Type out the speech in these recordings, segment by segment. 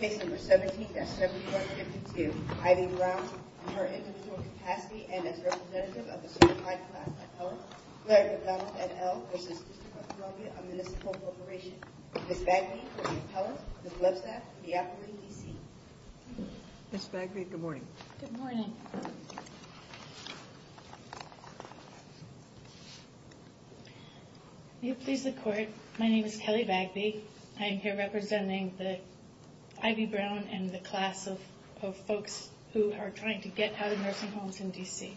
Case No. 17-7152, Ivy Brown, on her individual capacity and as representative of the certified class of appellant, Larry McDonald, et al., v. District of Columbia, a municipal corporation. Ms. Bagby for the appellant, Ms. Lovesack, and the applicant, DC. Ms. Bagby, good morning. Good morning. May it please the Court, my name is Kelly Bagby. I am here representing the Ivy Brown and the class of folks who are trying to get out of nursing homes in DC.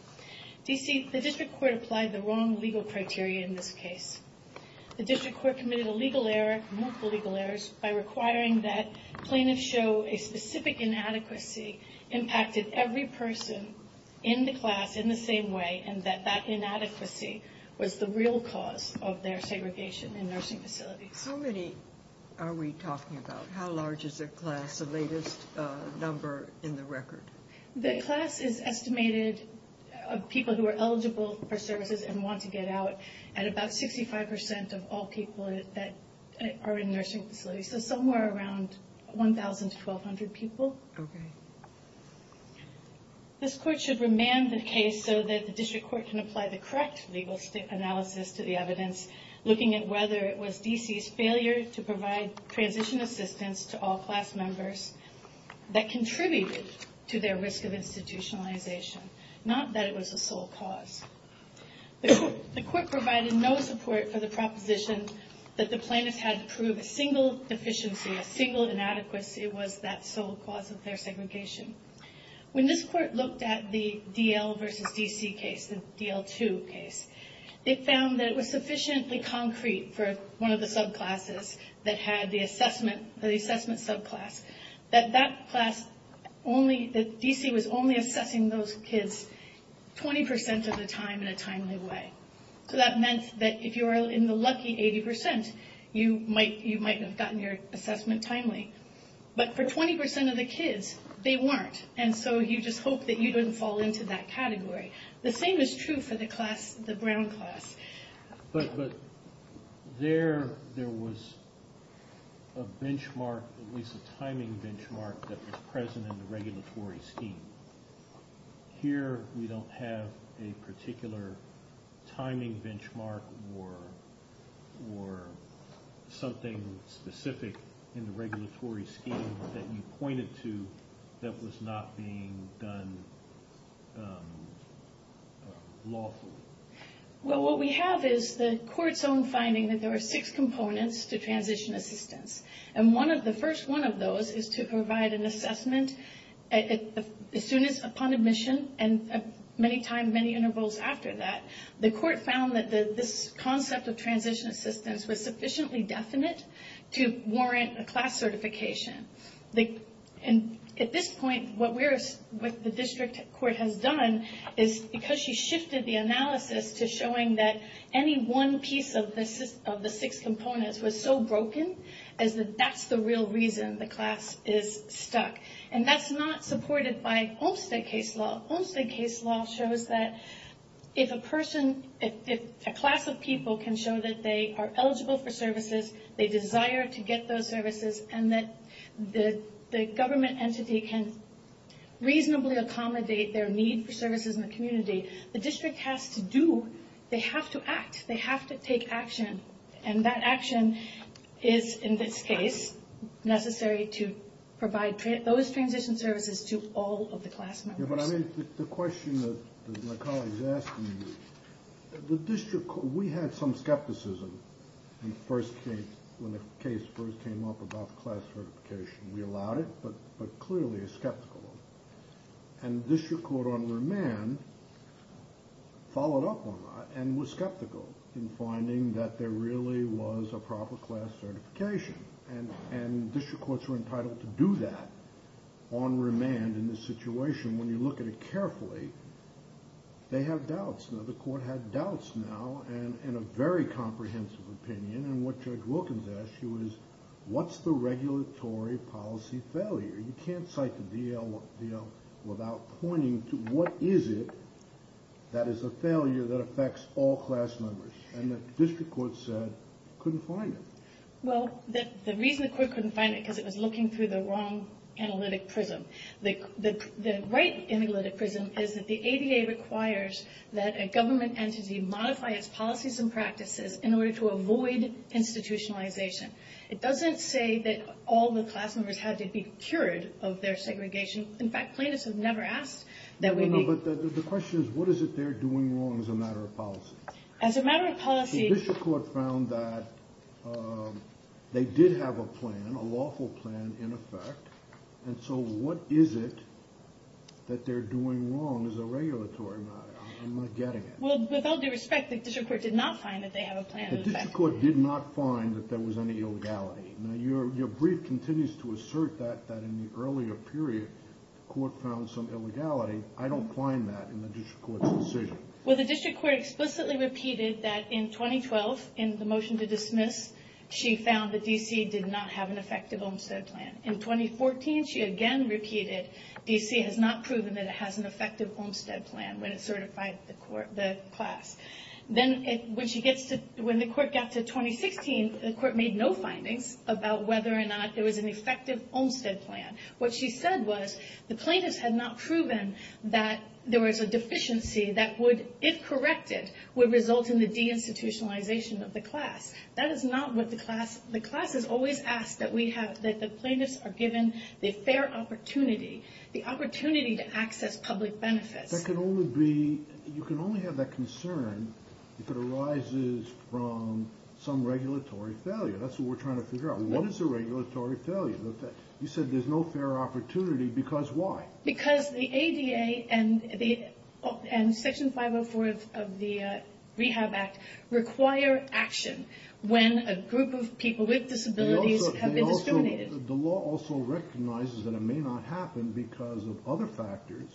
DC, the District Court applied the wrong legal criteria in this case. The District Court committed a legal error, multiple legal errors, by requiring that plaintiffs show a specific inadequacy impacted every person in the class in the same way and that that inadequacy was the real cause of their segregation in nursing facilities. How many are we talking about? How large is the class, the latest number in the record? The class is estimated of people who are eligible for services and want to get out, at about 65% of all people that are in nursing facilities, so somewhere around 1,000 to 1,200 people. Okay. This Court should remand the case so that the District Court can apply the correct legal analysis to the evidence, looking at whether it was DC's failure to provide transition assistance to all class members that contributed to their risk of institutionalization, not that it was the sole cause. The Court provided no support for the proposition that the plaintiffs had to prove a single deficiency, a single inadequacy was that sole cause of their segregation. When this Court looked at the D.L. v. D.C. case, the D.L. 2 case, it found that it was sufficiently concrete for one of the subclasses that had the assessment, the assessment subclass, that that class only, that D.C. was only assessing those kids 20% of the time in a timely way. So that meant that if you were in the lucky 80%, you might have gotten your assessment timely. But for 20% of the kids, they weren't. And so you just hope that you don't fall into that category. The same is true for the class, the Brown class. But there, there was a benchmark, at least a timing benchmark, that was present in the regulatory scheme. Here, we don't have a particular timing benchmark or something specific in the regulatory scheme that you pointed to that was not being done lawfully. Well, what we have is the Court's own finding that there are six components to transition assistance. And one of the first one of those is to provide an assessment as soon as upon admission, and many times, many intervals after that. The Court found that this concept of transition assistance was sufficiently definite to warrant a class certification. And at this point, what we're, what the District Court has done is because she shifted the analysis to showing that any one piece of the six components was so broken, is that that's the real reason the class is stuck. And that's not supported by Olmstead case law. Olmstead case law shows that if a person, if a class of people can show that they are eligible for services, they desire to get those services, and that the government entity can reasonably accommodate their need for services in the community, the District has to do, they have to act, they have to take action. And that action is, in this case, necessary to provide those transition services to all of the class members. Yeah, but I mean, the question that my colleagues asked me, the District Court, we had some skepticism when the case first came up about class certification. We allowed it, but clearly are skeptical of it. And District Court on remand followed up on that and was skeptical in finding that there really was a proper class certification. And District Courts were entitled to do that on remand in this situation. When you look at it carefully, they have doubts. Now, the Court had doubts now and a very comprehensive opinion. And what Judge Wilkins asked you is, what's the regulatory policy failure? You can't cite the DL without pointing to what is it that is a failure that affects all class members. And the District Court said it couldn't find it. Well, the reason the Court couldn't find it is because it was looking through the wrong analytic prism. The right analytic prism is that the ADA requires that a government entity modify its policies and practices in order to avoid institutionalization. It doesn't say that all the class members had to be cured of their segregation. In fact, plaintiffs have never asked that we make... But the question is, what is it they're doing wrong as a matter of policy? As a matter of policy... The District Court found that they did have a plan, a lawful plan, in effect. And so what is it that they're doing wrong as a regulatory matter? I'm not getting it. Well, with all due respect, the District Court did not find that they have a plan in effect. The District Court did not find that there was any illegality. Now, your brief continues to assert that in the earlier period, the Court found some illegality. I don't find that in the District Court's decision. Well, the District Court explicitly repeated that in 2012, in the motion to dismiss, she found that D.C. did not have an effective Olmstead plan. In 2014, she again repeated D.C. has not proven that it has an effective Olmstead plan when it certified the class. Then when she gets to... When the Court got to 2016, the Court made no findings about whether or not there was an effective Olmstead plan. What she said was the plaintiffs had not proven that there was a deficiency that would, if corrected, would result in the deinstitutionalization of the class. That is not what the class... The class has always asked that we have... That the plaintiffs are given the fair opportunity, the opportunity to access public benefits. That can only be, you can only have that concern if it arises from some regulatory failure. That's what we're trying to figure out. What is a regulatory failure? You said there's no fair opportunity because why? Because the ADA and Section 504 of the Rehab Act require action when a group of people with disabilities have been discriminated. The law also recognizes that it may not happen because of other factors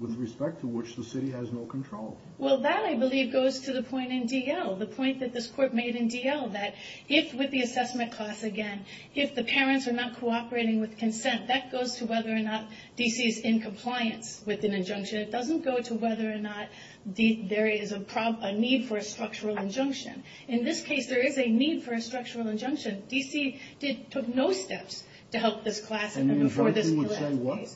with respect to which the city has no control. Well, that, I believe, goes to the point in D.L., the point that this Court made in D.L., that if, with the assessment class again, if the parents are not cooperating with consent, that goes to whether or not D.C. is in compliance with an injunction. It doesn't go to whether or not there is a need for a structural injunction. In this case, there is a need for a structural injunction. D.C. did, took no steps to help this class and before this class. And the injunction would say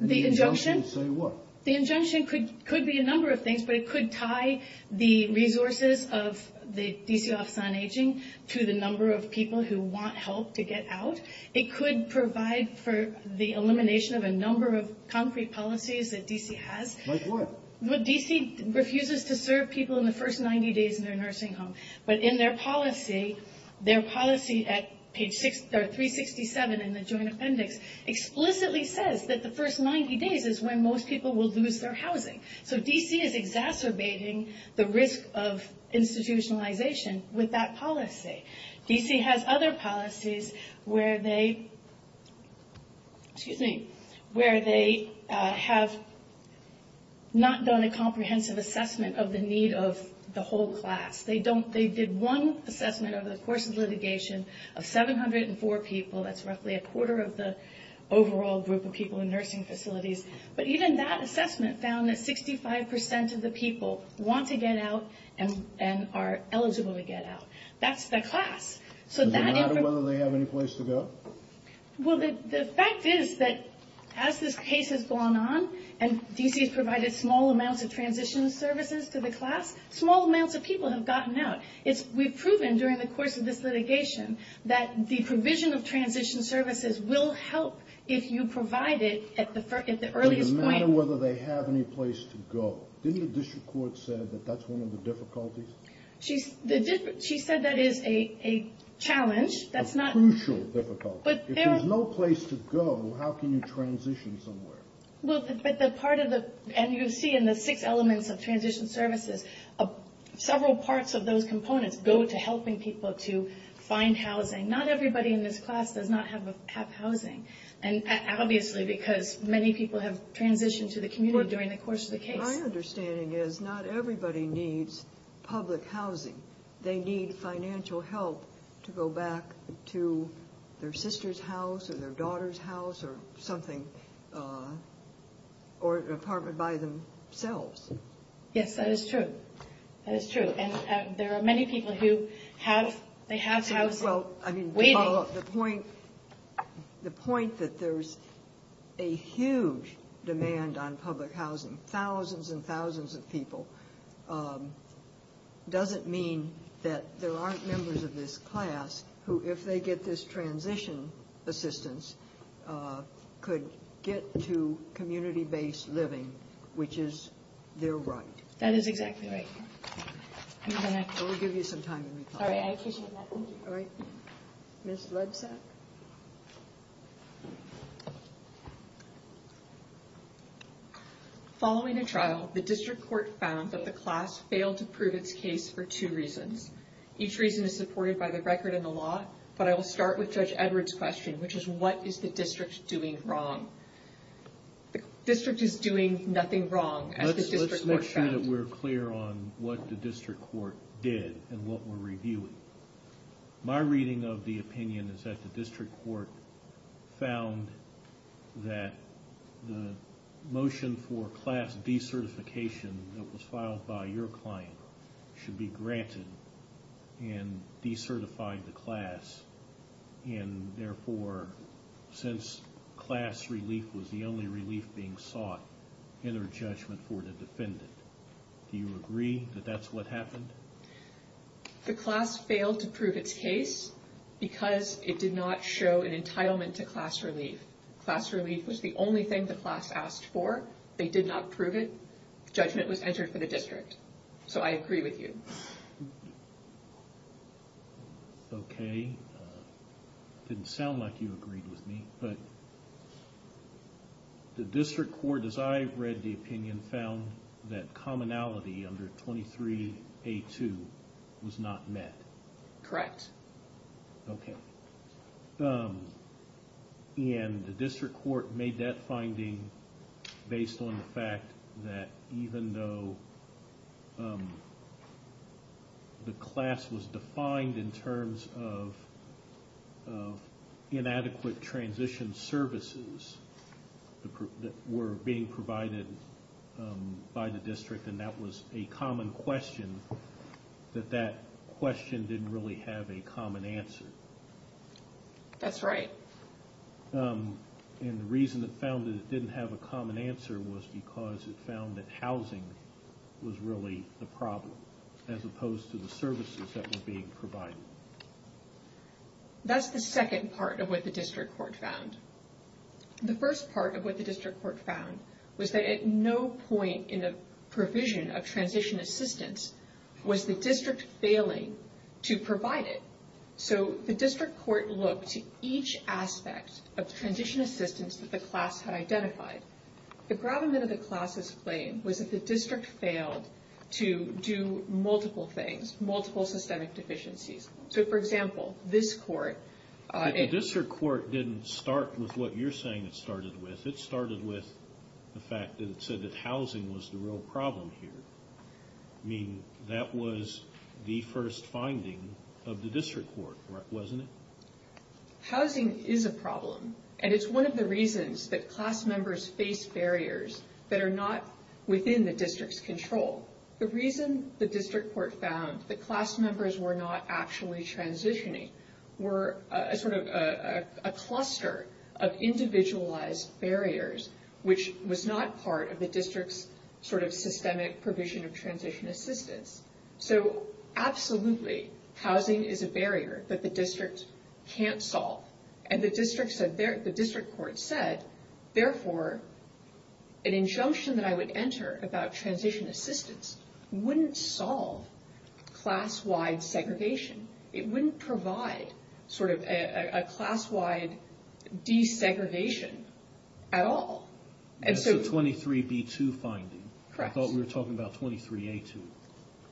what? The injunction. The injunction would say what? The injunction could be a number of things, but it could tie the resources of the D.C. Office on Aging to the number of people who want help to get out. It could provide for the elimination of a number of concrete policies that D.C. has. Like what? Well, D.C. refuses to serve people in the first 90 days in their nursing home. But in their policy, their policy at page 367 in the Joint Appendix explicitly says that the first 90 days is when most people will lose their housing. So D.C. is exacerbating the risk of institutionalization with that policy. D.C. has other policies where they have not done a comprehensive assessment of the need of the whole class. They did one assessment over the course of litigation of 704 people. That's roughly a quarter of the overall group of people in nursing facilities. But even that assessment found that 65% of the people want to get out and are eligible to get out. That's the class. So no matter whether they have any place to go? Well, the fact is that as this case has gone on and D.C. has provided small amounts of transition services to the class, small amounts of people have gotten out. We've proven during the course of this litigation that the provision of transition services will help if you provide it at the earliest point. So no matter whether they have any place to go. Didn't the district court say that that's one of the difficulties? She said that is a challenge. A crucial difficulty. If there's no place to go, how can you transition somewhere? Well, but the part of the, and you see in the six elements of transition services, several parts of those components go to helping people to find housing. Not everybody in this class does not have housing. And obviously because many people have transitioned to the community during the course of the case. My understanding is not everybody needs public housing. They need financial help to go back to their sister's house or their daughter's house or something, or an apartment by themselves. Yes, that is true. That is true. And there are many people who have, they have housing waiting. The point that there's a huge demand on public housing, thousands and thousands of people, doesn't mean that there aren't members of this class who, if they get this transition assistance, could get to community-based living, which is their right. That is exactly right. We'll give you some time to reply. Sorry, I appreciate that. All right. Ms. Lebsack? Following a trial, the district court found that the class failed to prove its case for two reasons. Each reason is supported by the record in the law, but I will start with Judge Edwards' question, which is, what is the district doing wrong? The district is doing nothing wrong, as the district court found. It's important that we're clear on what the district court did and what we're reviewing. My reading of the opinion is that the district court found that the motion for class decertification that was filed by your client should be granted and decertified the class, and therefore, since class relief was the only relief being sought, enter judgment for the defendant. Do you agree that that's what happened? The class failed to prove its case because it did not show an entitlement to class relief. Class relief was the only thing the class asked for. They did not prove it. Judgment was entered for the district, so I agree with you. Okay, didn't sound like you agreed with me, but the district court, as I read the opinion, found that commonality under 23A2 was not met. Correct. Okay, and the district court made that finding based on the fact that even though the class was defined in terms of inadequate transition services that were being provided by the district, and that was a common question, that that question didn't really have a common answer. That's right. And the reason it found that it didn't have a common answer was because it found that housing was really the problem, as opposed to the services that were being provided. That's the second part of what the district court found. The first part of what the district court found was that at no point in the provision of transition assistance was the district failing to provide it. So the district court looked to each aspect of transition assistance that the class had identified. The gravamen of the class's claim was that the district failed to do multiple things, multiple systemic deficiencies. So, for example, this court... But the district court didn't start with what you're saying it started with. It started with the fact that it said that housing was the real problem here. I mean, that was the first finding of the district court, wasn't it? Housing is a problem, and it's one of the reasons that class members face barriers that are not within the district's control. The reason the district court found that class members were not actually transitioning were a sort of a cluster of individualized barriers, which was not part of the district's sort of systemic provision of transition assistance. So, absolutely, housing is a barrier that the district can't solve. And the district court said, therefore, an injunction that I would enter about transition assistance wouldn't solve class-wide segregation. It wouldn't provide sort of a class-wide desegregation at all. That's the 23b2 finding. I thought we were talking about 23a2.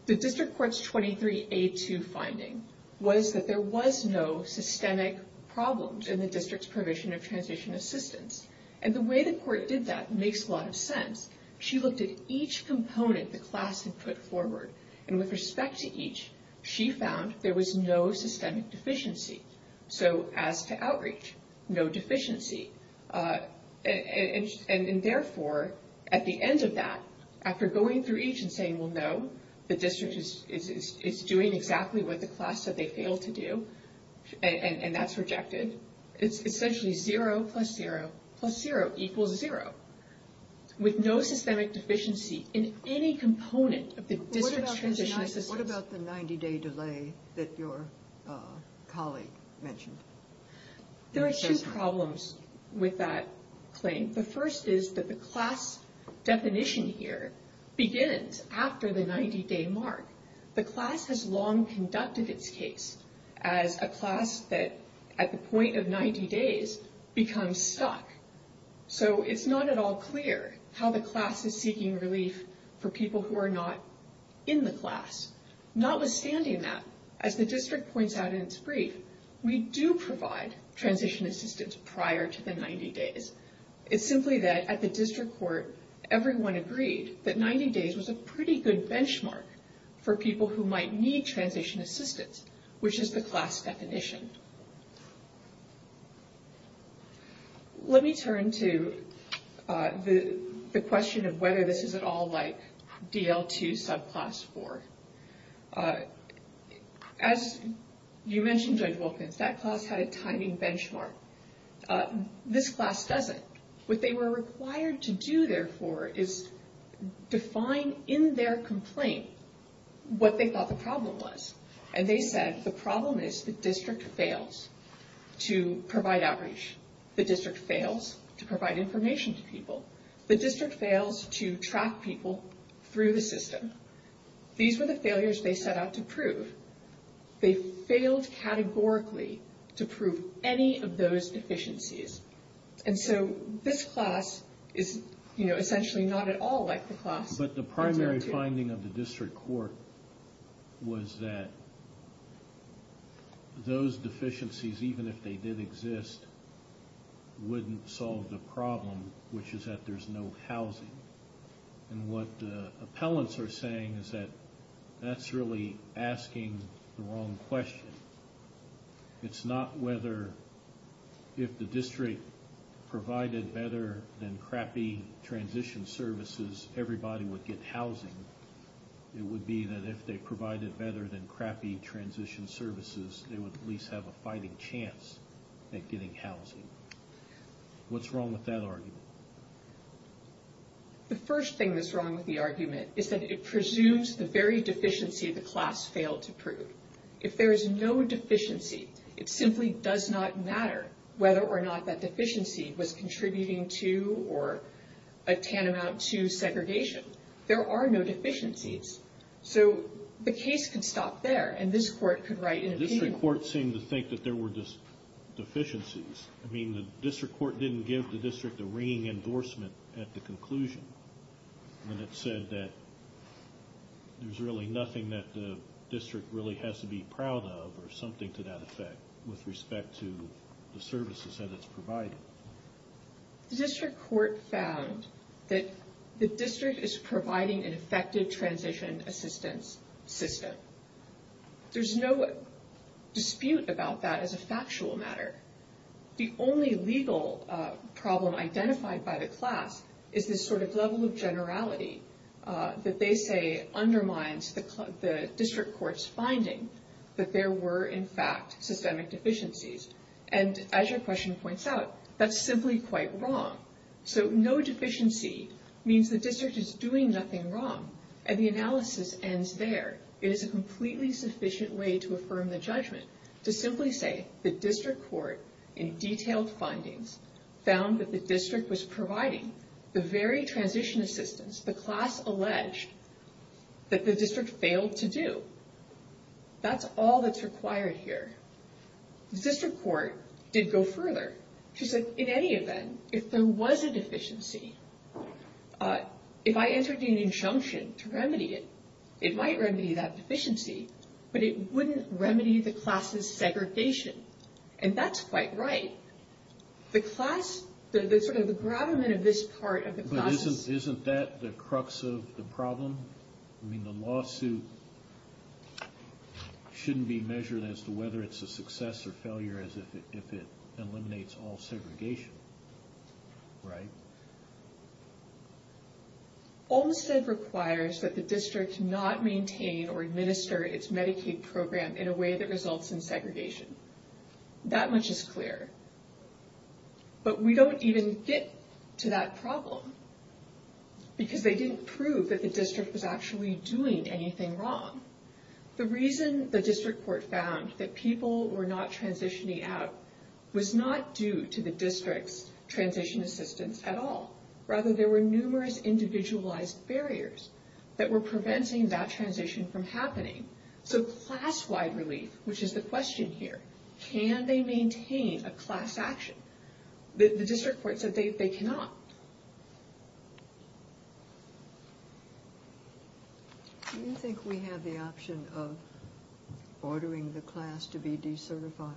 The district court's 23a2 finding was that there was no systemic problems in the district's provision of transition assistance. And the way the court did that makes a lot of sense. She looked at each component the class had put forward, and with respect to each, she found there was no systemic deficiency. So, as to outreach, no deficiency. And, therefore, at the end of that, after going through each and saying, well, no, the district is doing exactly what the class said they failed to do, and that's rejected, it's essentially zero plus zero plus zero equals zero. With no systemic deficiency in any component of the district's transition assistance. What about the 90-day delay that your colleague mentioned? There are two problems with that claim. The first is that the class definition here begins after the 90-day mark. The class has long conducted its case as a class that, at the point of 90 days, becomes stuck. So, it's not at all clear how the class is seeking relief for people who are not in the class. Notwithstanding that, as the district points out in its brief, we do provide transition assistance prior to the 90 days. It's simply that, at the district court, everyone agreed that 90 days was a pretty good benchmark for people who might need transition assistance, which is the class definition. Let me turn to the question of whether this is at all like DL2 subclass 4. As you mentioned, Judge Wilkins, that class had a timing benchmark. This class doesn't. What they were required to do, therefore, is define in their complaint what they thought the problem was. And they said, the problem is the district fails to provide outreach. The district fails to provide information to people. The district fails to track people through the system. These were the failures they set out to prove. They failed categorically to prove any of those deficiencies. And so, this class is essentially not at all like the class. But the primary finding of the district court was that those deficiencies, even if they did exist, wouldn't solve the problem, which is that there's no housing. And what the appellants are saying is that that's really asking the wrong question. It's not whether if the district provided better than crappy transition services, everybody would get housing. It would be that if they provided better than crappy transition services, they would at least have a fighting chance at getting housing. What's wrong with that argument? The first thing that's wrong with the argument is that it presumes the very deficiency the class failed to prove. If there is no deficiency, it simply does not matter whether or not that deficiency was contributing to or a tantamount to segregation. There are no deficiencies. So, the case can stop there, and this court could write an opinion. The district court seemed to think that there were deficiencies. I mean, the district court didn't give the district a ringing endorsement at the conclusion. And it said that there's really nothing that the district really has to be proud of or something to that effect with respect to the services that it's provided. The district court found that the district is providing an effective transition assistance system. There's no dispute about that as a factual matter. The only legal problem identified by the class is this sort of level of generality that they say undermines the district court's finding that there were, in fact, systemic deficiencies. And as your question points out, that's simply quite wrong. So, no deficiency means the district is doing nothing wrong, and the analysis ends there. It is a completely sufficient way to affirm the judgment to simply say the district court, in detailed findings, found that the district was providing the very transition assistance the class alleged that the district failed to do. That's all that's required here. The district court did go further. She said, in any event, if there was a deficiency, if I entered in an injunction to remedy it, it might remedy that deficiency, but it wouldn't remedy the class's segregation. And that's quite right. The class, the sort of the gravamen of this part of the class. Isn't that the crux of the problem? I mean, the lawsuit shouldn't be measured as to whether it's a success or failure as if it eliminates all segregation, right? Olmstead requires that the district not maintain or administer its Medicaid program in a way that results in segregation. That much is clear. But we don't even get to that problem because they didn't prove that the district was actually doing anything wrong. The reason the district court found that people were not transitioning out was not due to the district's transition assistance at all. Rather, there were numerous individualized barriers that were preventing that transition from happening. So class-wide relief, which is the question here, can they maintain a class action? The district court said they cannot. Do you think we have the option of ordering the class to be decertified?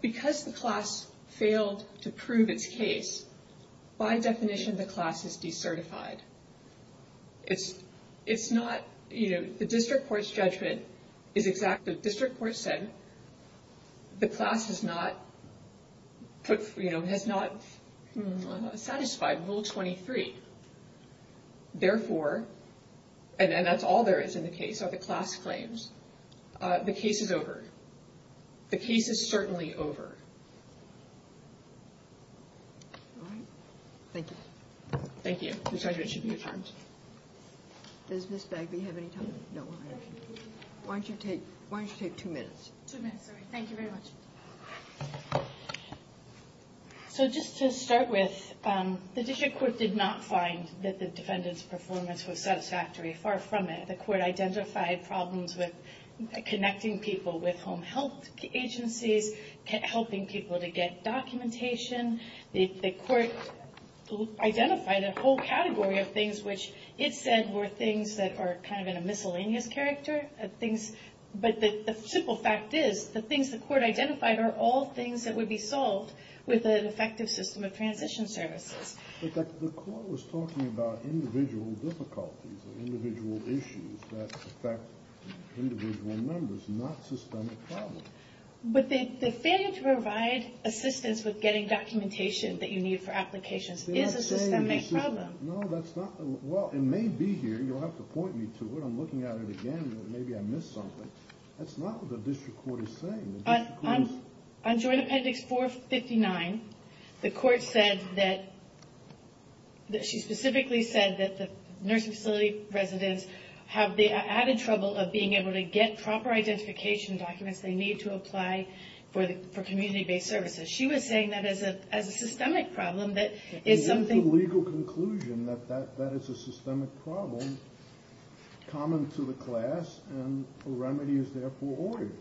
Because the class failed to prove its case, by definition, the class is decertified. It's not, you know, the district court's judgment is exact. The district court said the class has not put, you know, has not satisfied Rule 23. Therefore, and that's all there is in the case, are the class claims. The case is over. The case is certainly over. Thank you. Thank you. Your judgment should be affirmed. Does Ms. Bagby have any time? No. Why don't you take two minutes? Two minutes, sorry. Thank you very much. So just to start with, the district court did not find that the defendant's performance was satisfactory. Far from it. The court identified problems with connecting people with home health agencies, helping people to get documentation. The court identified a whole category of things which it said were things that are kind of in a miscellaneous character. But the simple fact is, the things the court identified are all things that would be solved with an effective system of transition services. But the court was talking about individual difficulties, individual issues that affect individual members, not systemic problems. But the failure to provide assistance with getting documentation that you need for applications is a systemic problem. No, that's not. Well, it may be here. You'll have to point me to it. I'm looking at it again. Maybe I missed something. That's not what the district court is saying. On Joint Appendix 459, the court said that – she specifically said that the nursing facility residents have the added trouble of being able to get proper identification documents they need to apply for community-based services. She was saying that as a systemic problem, that is something – that is a systemic problem common to the class, and a remedy is therefore ordered.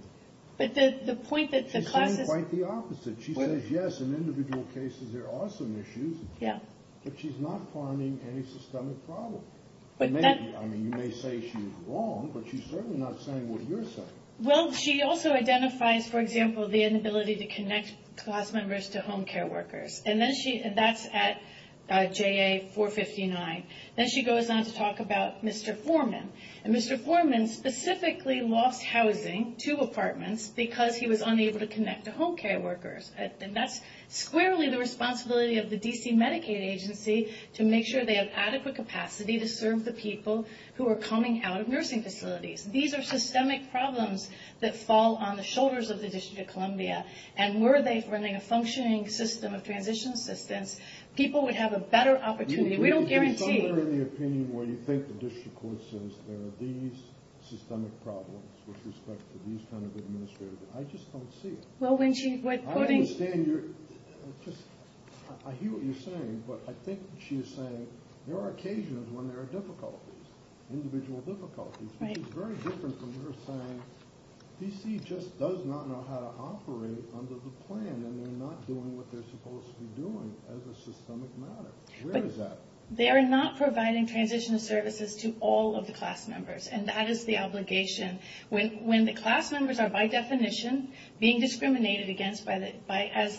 But the point that the class is – She's saying quite the opposite. She says, yes, in individual cases there are some issues. Yeah. But she's not finding any systemic problem. But that – I mean, you may say she's wrong, but she's certainly not saying what you're saying. Well, she also identifies, for example, the inability to connect class members to home care workers. And then she – that's at JA 459. Then she goes on to talk about Mr. Foreman. And Mr. Foreman specifically lost housing to apartments because he was unable to connect to home care workers. And that's squarely the responsibility of the D.C. Medicaid agency to make sure they have adequate capacity to serve the people who are coming out of nursing facilities. These are systemic problems that fall on the shoulders of the District of Columbia. And were they running a functioning system of transition assistance, people would have a better opportunity. We don't guarantee – Can you comment on the opinion where you think the district court says there are these systemic problems with respect to these kind of administrators? I just don't see it. Well, when she – I understand you're – I hear what you're saying, but I think she is saying there are occasions when there are difficulties, individual difficulties. Right. Which is very different from her saying D.C. just does not know how to operate under the plan, and they're not doing what they're supposed to be doing as a systemic matter. Where is that? They are not providing transition services to all of the class members, and that is the obligation. When the class members are by definition being discriminated against by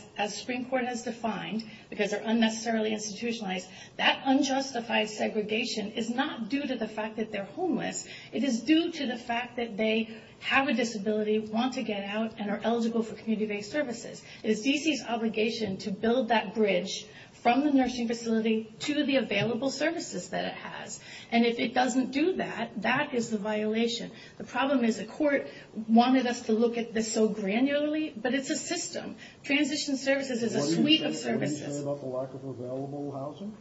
– as Supreme Court has defined, because they're unnecessarily institutionalized, that unjustified segregation is not due to the fact that they're homeless. It is due to the fact that they have a disability, want to get out, and are eligible for community-based services. It is D.C.'s obligation to build that bridge from the nursing facility to the available services that it has. And if it doesn't do that, that is the violation. The problem is the court wanted us to look at this so granularly, but it's a system. Transition services is a suite of services. Are you saying about the lack of available housing?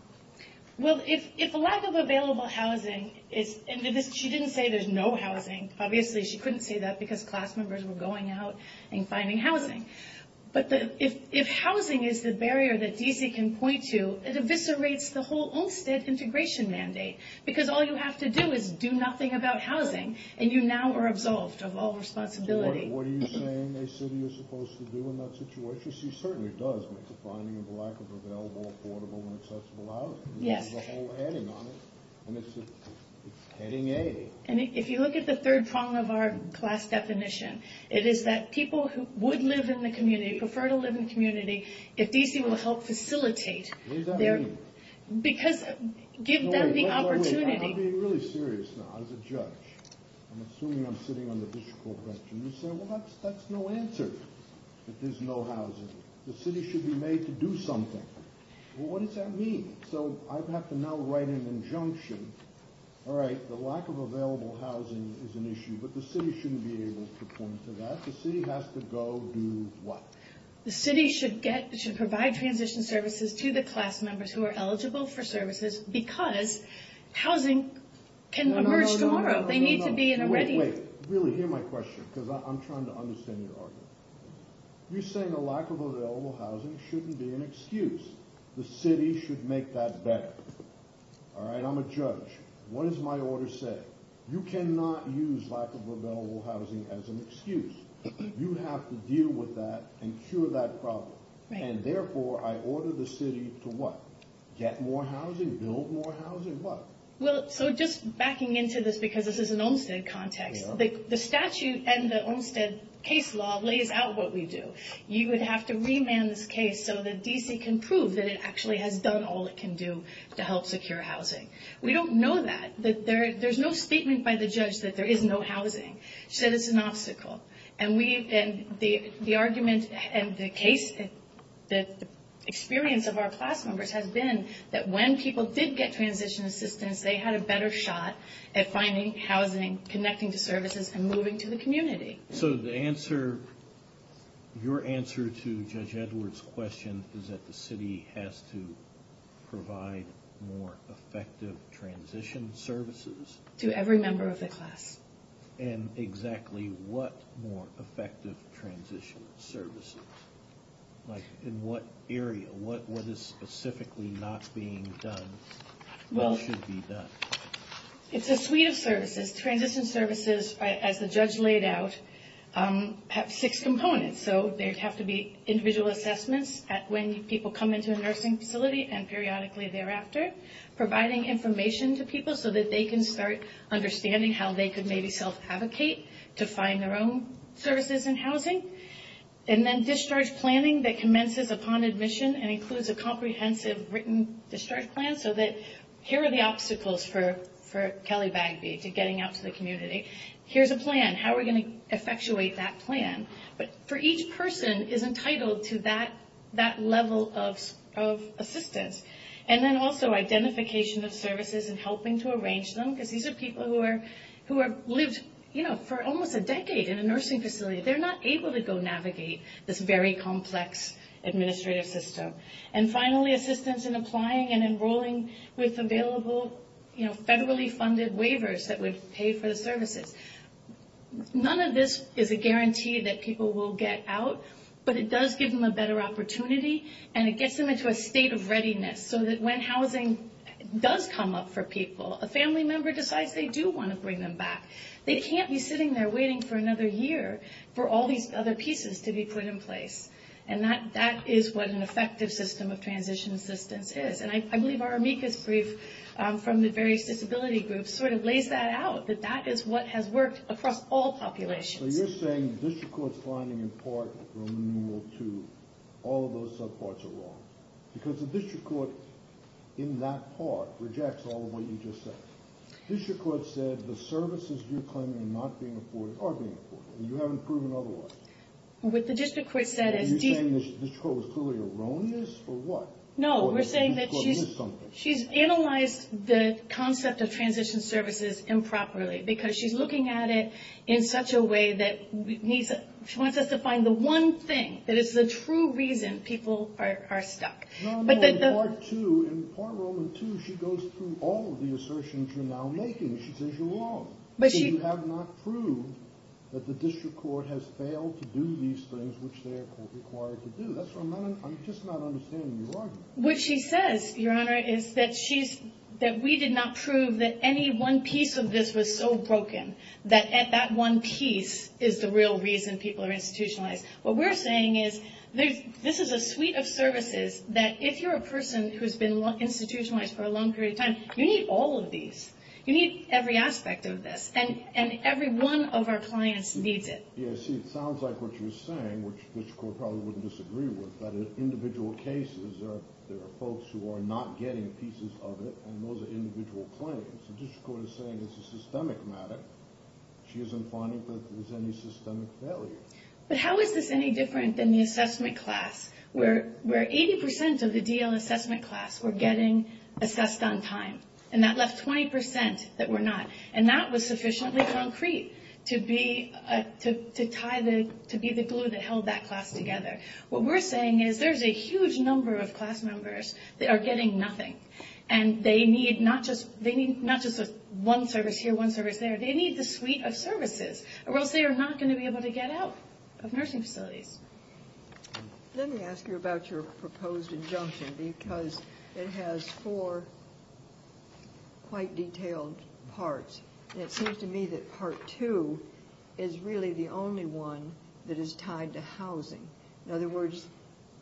Well, if the lack of available housing is – and she didn't say there's no housing. Obviously, she couldn't say that because class members were going out and finding housing. But if housing is the barrier that D.C. can point to, it eviscerates the whole Olmstead integration mandate, because all you have to do is do nothing about housing, and you now are absolved of all responsibility. What are you saying a city is supposed to do in that situation? She certainly does make a finding of the lack of available, affordable, and accessible housing. Yes. There's a whole heading on it, and it's heading A. And if you look at the third prong of our class definition, it is that people who would live in the community, prefer to live in the community, if D.C. will help facilitate their – What does that mean? Because – give them the opportunity. I'm being really serious now. As a judge, I'm assuming I'm sitting on the district court bench, and you say, Well, that's no answer, that there's no housing. The city should be made to do something. Well, what does that mean? So I'd have to now write an injunction. All right, the lack of available housing is an issue, but the city shouldn't be able to point to that. The city has to go do what? The city should get – should provide transition services to the class members who are eligible for services because housing can emerge tomorrow. No, no, no, no. They need to be in a ready – I'm trying to understand your argument. You're saying a lack of available housing shouldn't be an excuse. The city should make that better. All right, I'm a judge. What does my order say? You cannot use lack of available housing as an excuse. You have to deal with that and cure that problem. And therefore, I order the city to what? Get more housing? Build more housing? What? Well, so just backing into this because this is an Olmstead context, the statute and the Olmstead case law lays out what we do. You would have to remand this case so that D.C. can prove that it actually has done all it can do to help secure housing. We don't know that. There's no statement by the judge that there is no housing. She said it's an obstacle. And the argument and the case, the experience of our class members, has been that when people did get transition assistance, they had a better shot at finding housing, connecting to services, and moving to the community. So your answer to Judge Edwards' question is that the city has to provide more effective transition services? To every member of the class. And exactly what more effective transition services? Like in what area? What is specifically not being done? What should be done? It's a suite of services. Transition services, as the judge laid out, have six components. So there would have to be individual assessments when people come into a nursing facility and periodically thereafter. Providing information to people so that they can start understanding how they could maybe self-advocate to find their own services and housing. And then discharge planning that commences upon admission and includes a comprehensive written discharge plan. So that here are the obstacles for Kelly Bagby to getting out to the community. Here's a plan. How are we going to effectuate that plan? But for each person is entitled to that level of assistance. And then also identification of services and helping to arrange them. Because these are people who have lived, you know, for almost a decade in a nursing facility. They're not able to go navigate this very complex administrative system. And finally, assistance in applying and enrolling with available, you know, federally funded waivers that would pay for the services. None of this is a guarantee that people will get out. But it does give them a better opportunity. And it gets them into a state of readiness so that when housing does come up for people, a family member decides they do want to bring them back. They can't be sitting there waiting for another year for all these other pieces to be put in place. And that is what an effective system of transition assistance is. And I believe our amicus brief from the various disability groups sort of lays that out. That that is what has worked across all populations. So you're saying the district court's finding in part renewal to all of those subparts are wrong. Because the district court in that part rejects all of what you just said. The district court said the services you're claiming are not being afforded are being afforded. And you haven't proven otherwise. What the district court said is... Are you saying the district court was clearly erroneous or what? No, we're saying that she's analyzed the concept of transition services improperly. Because she's looking at it in such a way that she wants us to find the one thing that is the true reason people are stuck. No, no, in Part 2, in Part Roman 2, she goes through all of the assertions you're now making. She says you're wrong. So you have not proved that the district court has failed to do these things which they are required to do. I'm just not understanding your argument. What she says, Your Honor, is that we did not prove that any one piece of this was so broken that that one piece is the real reason people are institutionalized. What we're saying is this is a suite of services that if you're a person who's been institutionalized for a long period of time, you need all of these. You need every aspect of this. And every one of our clients needs it. Yeah, see, it sounds like what you're saying, which the district court probably wouldn't disagree with, that in individual cases there are folks who are not getting pieces of it, and those are individual claims. The district court is saying it's a systemic matter. She isn't finding that there's any systemic failure. But how is this any different than the assessment class where 80% of the DL assessment class were getting assessed on time, and that left 20% that were not, and that was sufficiently concrete to be the glue that held that class together. What we're saying is there's a huge number of class members that are getting nothing, and they need not just one service here, one service there. They need the suite of services or else they are not going to be able to get out of nursing facilities. Let me ask you about your proposed injunction because it has four quite detailed parts, and it seems to me that part two is really the only one that is tied to housing. In other words,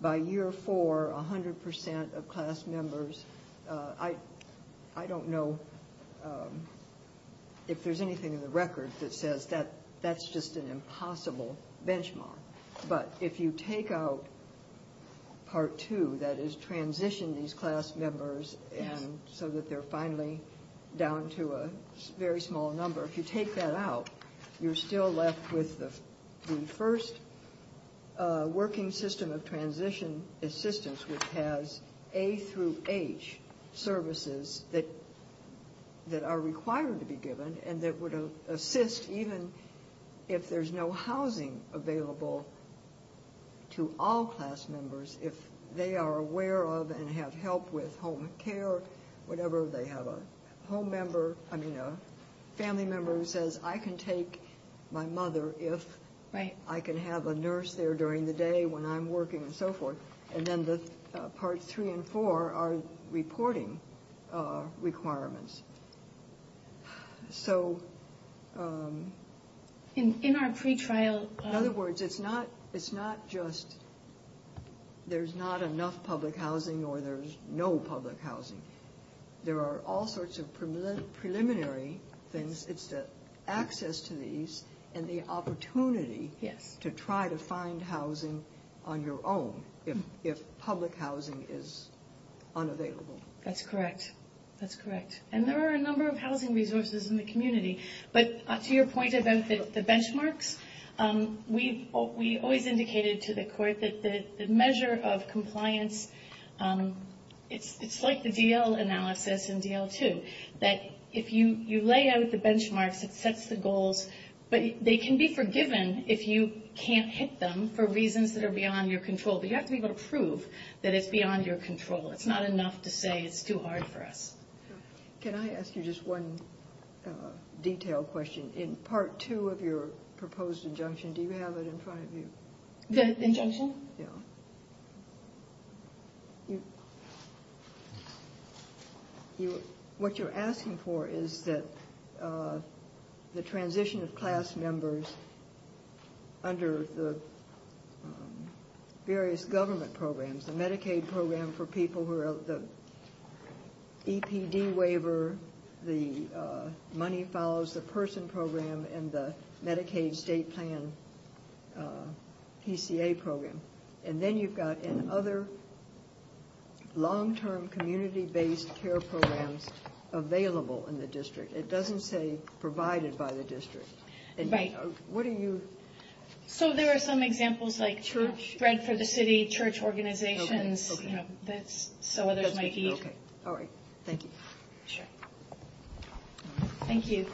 by year four, 100% of class members, I don't know if there's anything in the record that says that's just an impossible benchmark. But if you take out part two, that is transition these class members so that they're finally down to a very small number, if you take that out, you're still left with the first working system of transition assistance, which has A through H services that are required to be given and that would assist even if there's no housing available to all class members, if they are aware of and have help with home care, whatever, they have a family member who says, I can take my mother if I can have a nurse there during the day when I'm working and so forth. And then the part three and four are reporting requirements. In other words, it's not just there's not enough public housing or there's no public housing. There are all sorts of preliminary things. It's the access to these and the opportunity to try to find housing on your own if public housing is unavailable. That's correct. That's correct. And there are a number of housing resources in the community. But to your point about the benchmarks, we always indicated to the court that the measure of compliance, it's like the DL analysis in DL2, that if you lay out the benchmarks, it sets the goals, but they can be forgiven if you can't hit them for reasons that are beyond your control. But you have to be able to prove that it's beyond your control. It's not enough to say it's too hard for us. Can I ask you just one detailed question? In part two of your proposed injunction, do you have it in front of you? The injunction? Yeah. What you're asking for is that the transition of class members under the various government programs, the Medicaid program for people who are the EPD waiver, the money follows the person program, and the Medicaid state plan PCA program. And then you've got other long-term community-based care programs available in the district. It doesn't say provided by the district. Right. What do you? So there are some examples like Bread for the City, church organizations, so others might need. All right. Thank you. Sure. Thank you.